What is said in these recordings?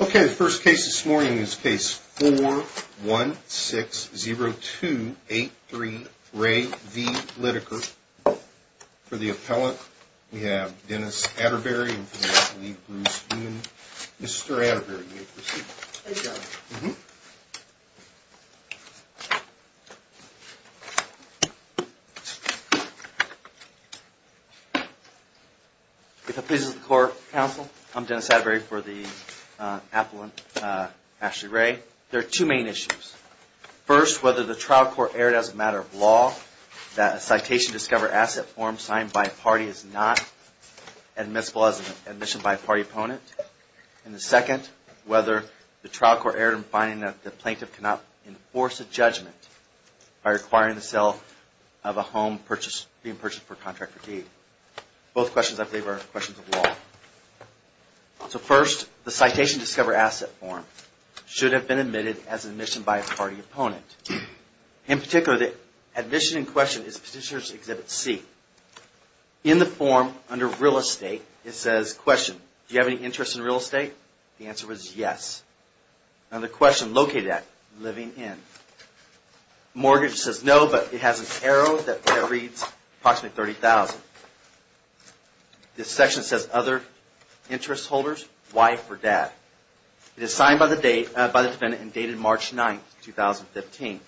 Okay, the first case this morning is case four one six zero two eight three ray v. Lyttaker For the appellate we have Dennis Atterbury If it pleases the court counsel, I'm Dennis Atterbury for the appellant Ashley Ray. There are two main issues. First, whether the trial court erred as a matter of law that a citation discover asset form signed by a party is not admissible as a matter of law. Admission by a party opponent. And the second, whether the trial court erred in finding that the plaintiff cannot enforce a judgment by requiring the sale of a home being purchased for a contract for deed. Both questions I believe are questions of law. So first, the citation discover asset form should have been admitted as an admission by a party opponent. In particular, the admission in question is Petitioner's Exhibit C. In the form under real estate, it says question, do you have any interest in real estate? The answer is yes. Now the question located at living in. Mortgage says no, but it has an arrow that reads approximately $30,000. This section says other interest holders, wife or dad. It is signed by the defendant and dated March 9, 2015.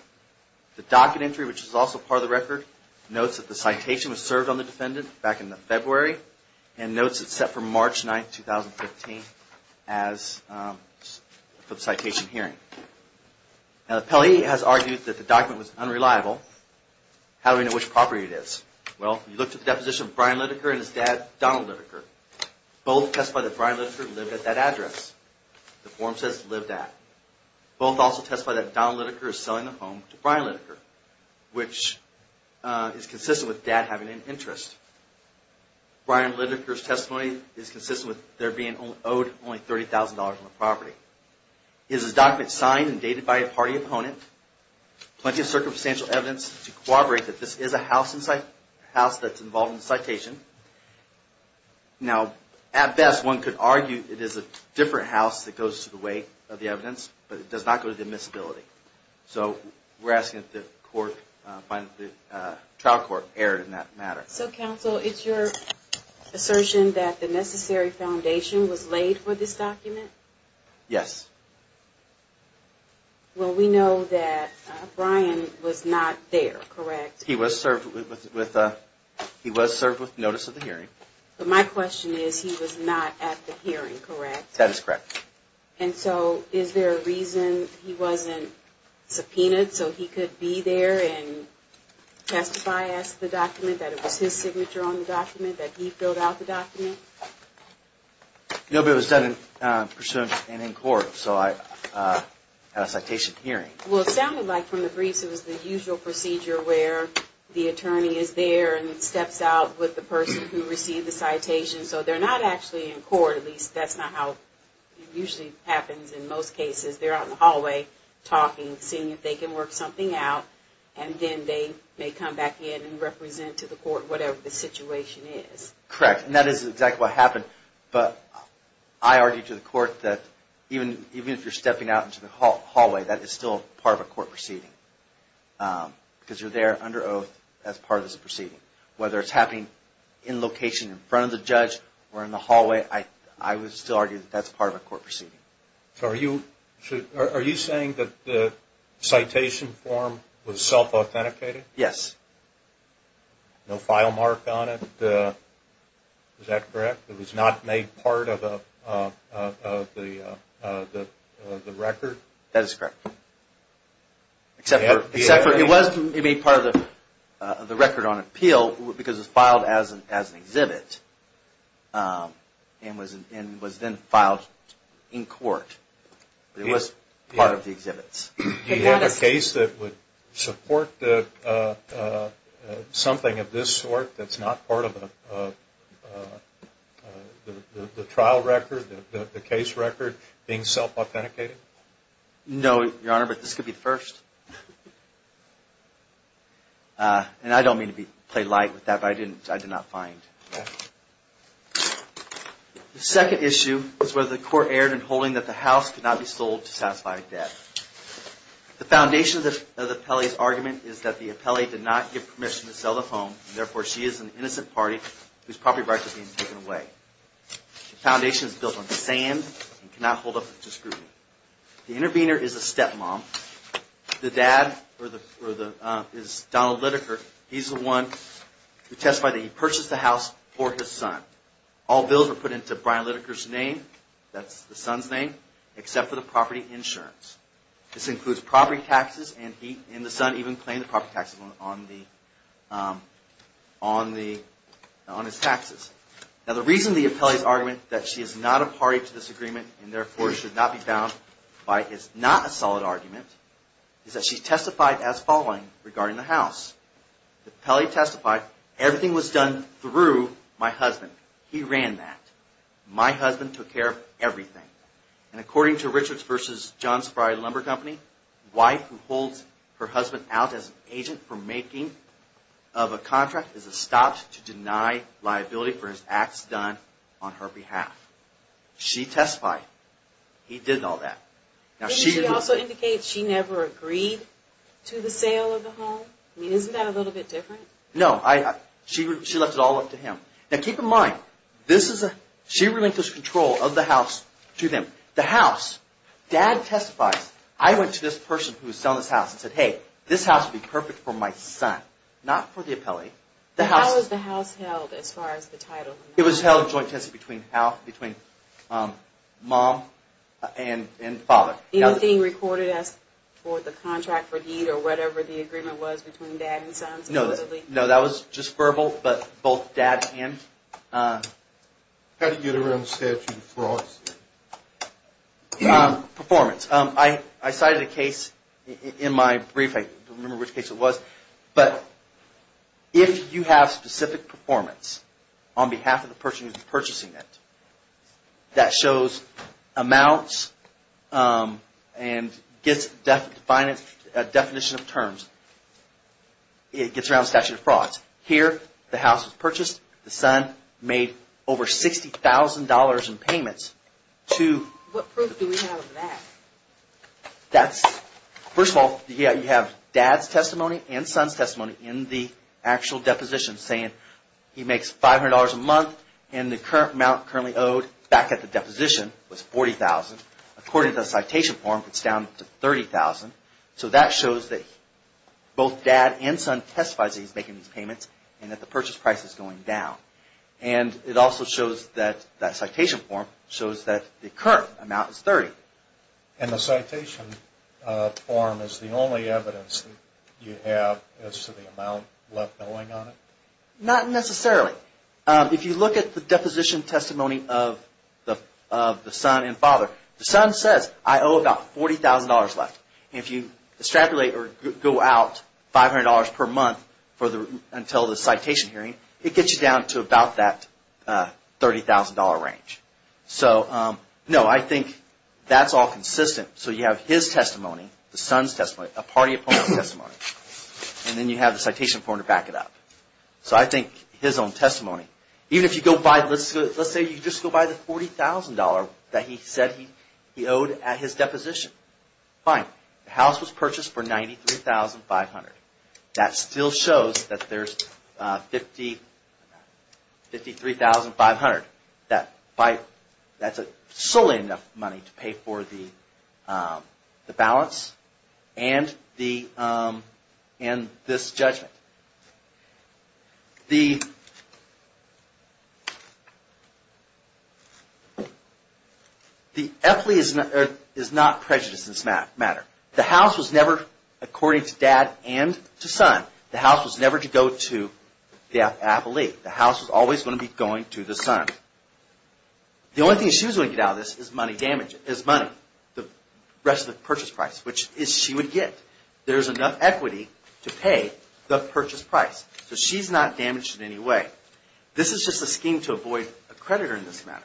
The docket entry, which is also part of the record, notes that the citation was served on the defendant back in February and notes it's set for March 9, 2015 for the citation hearing. Now the appellee has argued that the document was unreliable. How do we know which property it is? Well, if you look at the deposition of Brian Lidecker and his dad Donald Lidecker, both testify that Brian Lidecker lived at that address. The form says lived at. Both also testify that Donald Lidecker is selling the home to Brian Lidecker, which is consistent with dad having an interest. Brian Lidecker's testimony is consistent with their being owed only $30,000 on the property. It is a document signed and dated by a party opponent. Plenty of circumstantial evidence to corroborate that this is a house that's involved in the citation. Now at best one could argue it is a different house that goes to the weight of the evidence, but it does not go to the admissibility. So we're asking that the trial court err in that matter. So counsel, it's your assertion that the necessary foundation was laid for this document? Yes. Well, we know that Brian was not there, correct? He was served with notice of the hearing. But my question is he was not at the hearing, correct? That is correct. And so is there a reason he wasn't subpoenaed so he could be there and testify as to the document, that it was his signature on the document, that he filled out the document? No, but it was done in pursuance and in court. So I had a citation hearing. Well, it sounded like from the briefs it was the usual procedure where the attorney is there and steps out with the person who received the citation. So they're not actually in court, at least that's not how it usually happens in most cases. They're out in the hallway talking, seeing if they can work something out, and then they may come back in and represent to the court whatever the situation is. Correct. And that is exactly what happened. But I argued to the court that even if you're stepping out into the hallway, that is still part of a court proceeding because you're there under oath as part of this proceeding. Whether it's happening in location in front of the judge or in the hallway, I would still argue that that's part of a court proceeding. So are you saying that the citation form was self-authenticated? Yes. No file mark on it? Is that correct? It was not made part of the record? That is correct. Except for it was made part of the record on appeal because it was filed as an exhibit and was then filed in court. It was part of the exhibits. Do you have a case that would support something of this sort that's not part of the trial record, the case record, being self-authenticated? No, Your Honor, but this could be the first. And I don't mean to play light with that, but I did not find. The second issue is whether the court erred in holding that the house could not be sold to satisfy a debt. The foundation of the appellee's argument is that the appellee did not give permission to sell the home, and therefore she is an innocent party whose property rights are being taken away. The foundation is built on sand and cannot hold up to scrutiny. The intervener is a step-mom. The dad is Donald Lidecker. He's the one who testified that he purchased the house for his son. All bills were put into Brian Lidecker's name, that's the son's name, except for the property insurance. This includes property taxes, and the son even claimed the property taxes on his taxes. Now the reason the appellee's argument that she is not a party to this agreement, and therefore should not be bound by it's not a solid argument, is that she testified as following regarding the house. The appellee testified, everything was done through my husband. He ran that. My husband took care of everything. And according to Richards v. Johns Fry Lumber Company, wife who holds her husband out as an agent for making of a contract is a stop to deny liability for his acts done on her behalf. She testified he did all that. Didn't she also indicate she never agreed to the sale of the home? Isn't that a little bit different? No, she left it all up to him. Now keep in mind, she relinquished control of the house to them. The house, dad testifies, I went to this person who was selling this house and said hey, this house would be perfect for my son. Not for the appellee. How was the house held as far as the title? It was held joint test between mom and father. Anything recorded as for the contract for deed or whatever the agreement was between dad and son? No, that was just verbal, but both dad and. How did you get around the statute of frauds? Performance. I cited a case in my brief. I don't remember which case it was, but if you have specific performance on behalf of the person who's purchasing it that shows amounts and gets definition of terms, it gets around statute of frauds. Here the house was purchased. The son made over $60,000 in payments. What proof do we have of that? First of all, you have dad's testimony and son's testimony in the actual deposition saying he makes $500 a month and the amount currently owed back at the deposition was $40,000. According to the citation form, it's down to $30,000. So that shows that both dad and son testified that he's making these payments and that the purchase price is going down. And it also shows that that citation form shows that the current amount is $30,000. And the citation form is the only evidence that you have as to the amount left going on it? Not necessarily. If you look at the deposition testimony of the son and father, the son says, I owe about $40,000 left. If you extrapolate or go out $500 per month until the citation hearing, it gets you down to about that $30,000 range. So no, I think that's all consistent. So you have his testimony, the son's testimony, a party opponent's testimony, and then you have the citation form to back it up. So I think his own testimony, even if you go by, let's say you just go by the $40,000 that he said he owed at his deposition. Fine. The house was purchased for $93,500. That still shows that there's $53,500. That's solely enough money to pay for the balance and this judgment. The FLE is not prejudiced in this matter. The house was never, according to dad and to son, the house was never to go to the FLE. The house was always going to be going to the son. The only thing she was going to get out of this is money, the rest of the purchase price, which she would get. There's enough equity to pay the purchase price. So she's not damaged in any way. This is just a scheme to avoid a creditor in this matter.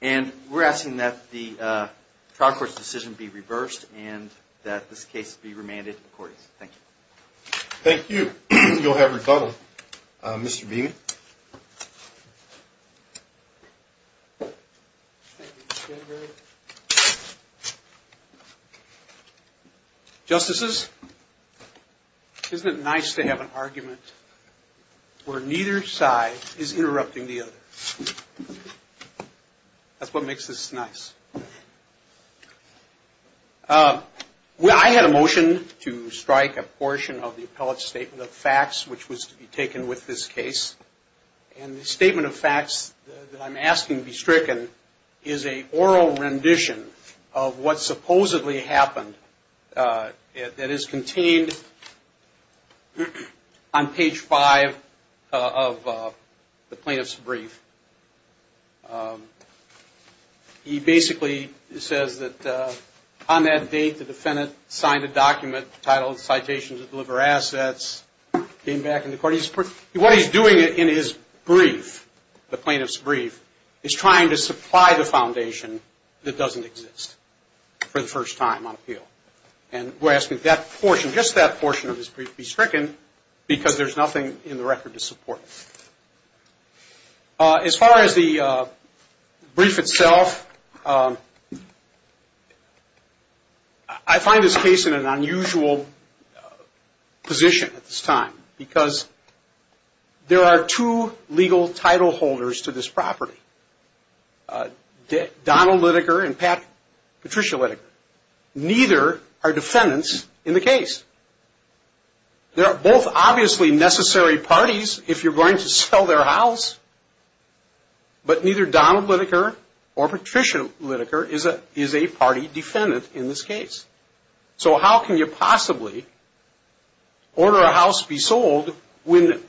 And we're asking that the trial court's decision be reversed and that this case be remanded to the court. Thank you. Thank you. You'll have rebuttal, Mr. Beaman. Justices, isn't it nice to have an argument where neither side is interrupting the other? That's what makes this nice. I had a motion to strike a portion of the appellate's statement of facts, which was to be taken with this case. And the statement of facts that I'm asking be stricken is an oral rendition of what supposedly happened that is contained on page 5 of the plaintiff's brief. He basically says that on that date, the defendant signed a document titled Citations that Deliver Assets, came back into court. What he's doing in his brief, the plaintiff's brief, is trying to supply the foundation that doesn't exist for the first time on appeal. And we're asking that portion, just that portion of his brief, be stricken because there's nothing in the record to support it. As far as the brief itself, I find this case in an unusual position at this time because there are two legal title holders to this property, Donald Litiker and Patricia Litiker. Neither are defendants in the case. They're both obviously necessary parties if you're going to sell their house. But neither Donald Litiker or Patricia Litiker is a party defendant in this case. So how can you possibly order a house be sold when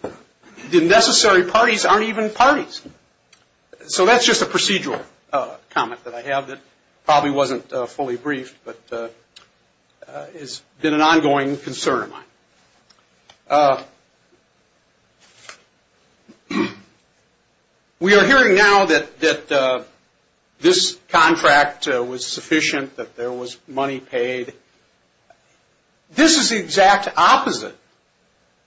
the necessary parties aren't even parties? So that's just a procedural comment that I have that probably wasn't fully briefed but has been an ongoing concern of mine. We are hearing now that this contract was sufficient, that there was money paid. This is the exact opposite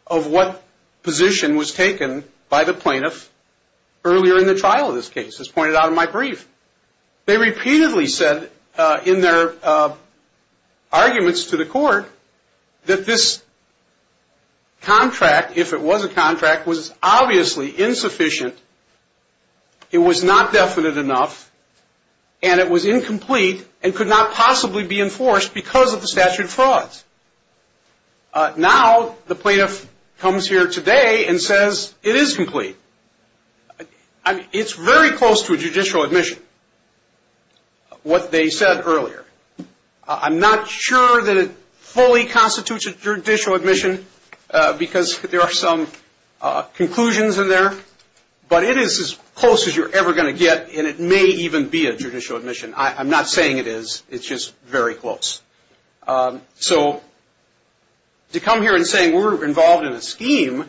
of what position was taken by the plaintiff earlier in the trial of this case, as pointed out in my brief. They repeatedly said in their arguments to the court that this contract, if it was a contract, was obviously insufficient. It was not definite enough, and it was incomplete and could not possibly be enforced because of the statute of frauds. Now the plaintiff comes here today and says it is complete. It's very close to a judicial admission, what they said earlier. I'm not sure that it fully constitutes a judicial admission because there are some conclusions in there. But it is as close as you're ever going to get, and it may even be a judicial admission. I'm not saying it is. It's just very close. So to come here and say we're involved in a scheme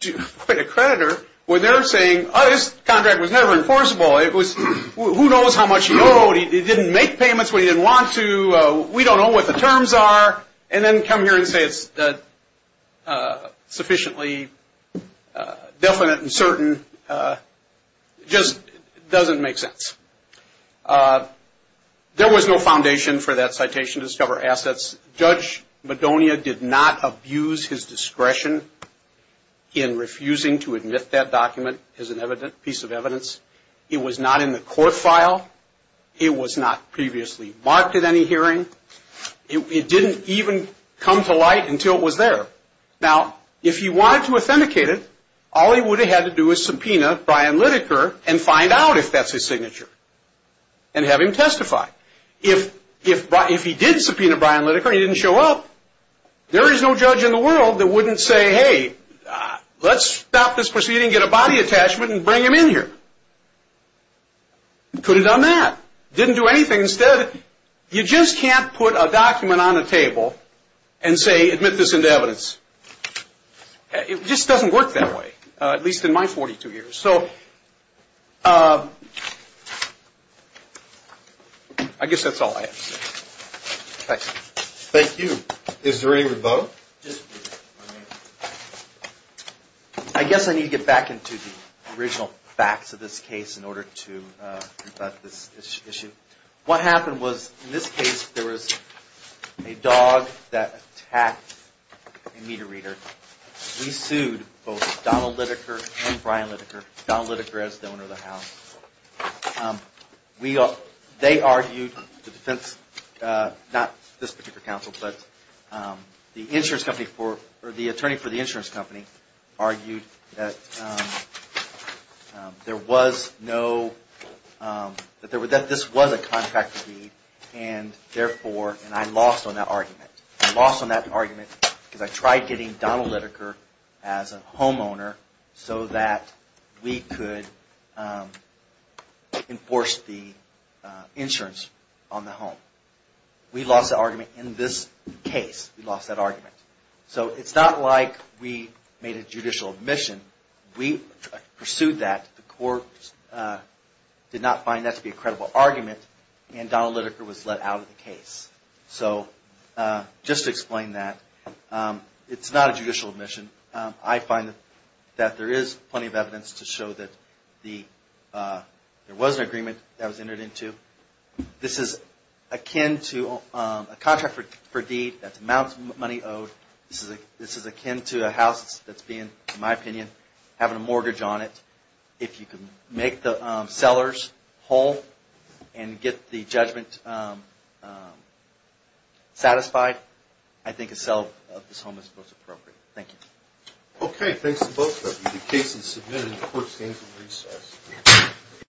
to acquit a creditor when they're saying, oh, this contract was never enforceable. It was who knows how much he owed. He didn't make payments when he didn't want to. We don't know what the terms are. And then come here and say it's sufficiently definite and certain just doesn't make sense. There was no foundation for that citation to discover assets. Judge Madonia did not abuse his discretion in refusing to admit that document as a piece of evidence. It was not in the court file. It was not previously marked at any hearing. It didn't even come to light until it was there. Now, if he wanted to authenticate it, all he would have had to do is subpoena Brian Lideker and find out if that's his signature and have him testify. If he did subpoena Brian Lideker and he didn't show up, there is no judge in the world that wouldn't say, hey, let's stop this proceeding, get a body attachment and bring him in here. Could have done that. Didn't do anything. Instead, you just can't put a document on a table and say admit this into evidence. It just doesn't work that way, at least in my 42 years. So I guess that's all I have to say. Thanks. Thank you. Is there any rebuttal? I guess I need to get back into the original facts of this case in order to conduct this issue. What happened was, in this case, there was a dog that attacked a meter reader. We sued both Donald Lideker and Brian Lideker. Donald Lideker is the owner of the house. They argued the defense, not this particular counsel, but the attorney for the insurance company, argued that this was a contractor deed and therefore, and I lost on that argument. I lost on that argument because I tried getting Donald Lideker as a homeowner so that we could enforce the insurance on the home. We lost the argument in this case. We lost that argument. So it's not like we made a judicial admission. We pursued that. The court did not find that to be a credible argument and Donald Lideker was let out of the case. So just to explain that, it's not a judicial admission. I find that there is plenty of evidence to show that there was an agreement that was entered into. This is akin to a contract for deed. That's amounts of money owed. This is akin to a house that's being, in my opinion, having a mortgage on it. If you can make the sellers whole and get the judgment satisfied, I think a sale of this home is most appropriate. Thank you. Okay, thanks to both of you. The case is submitted and the court stands at recess.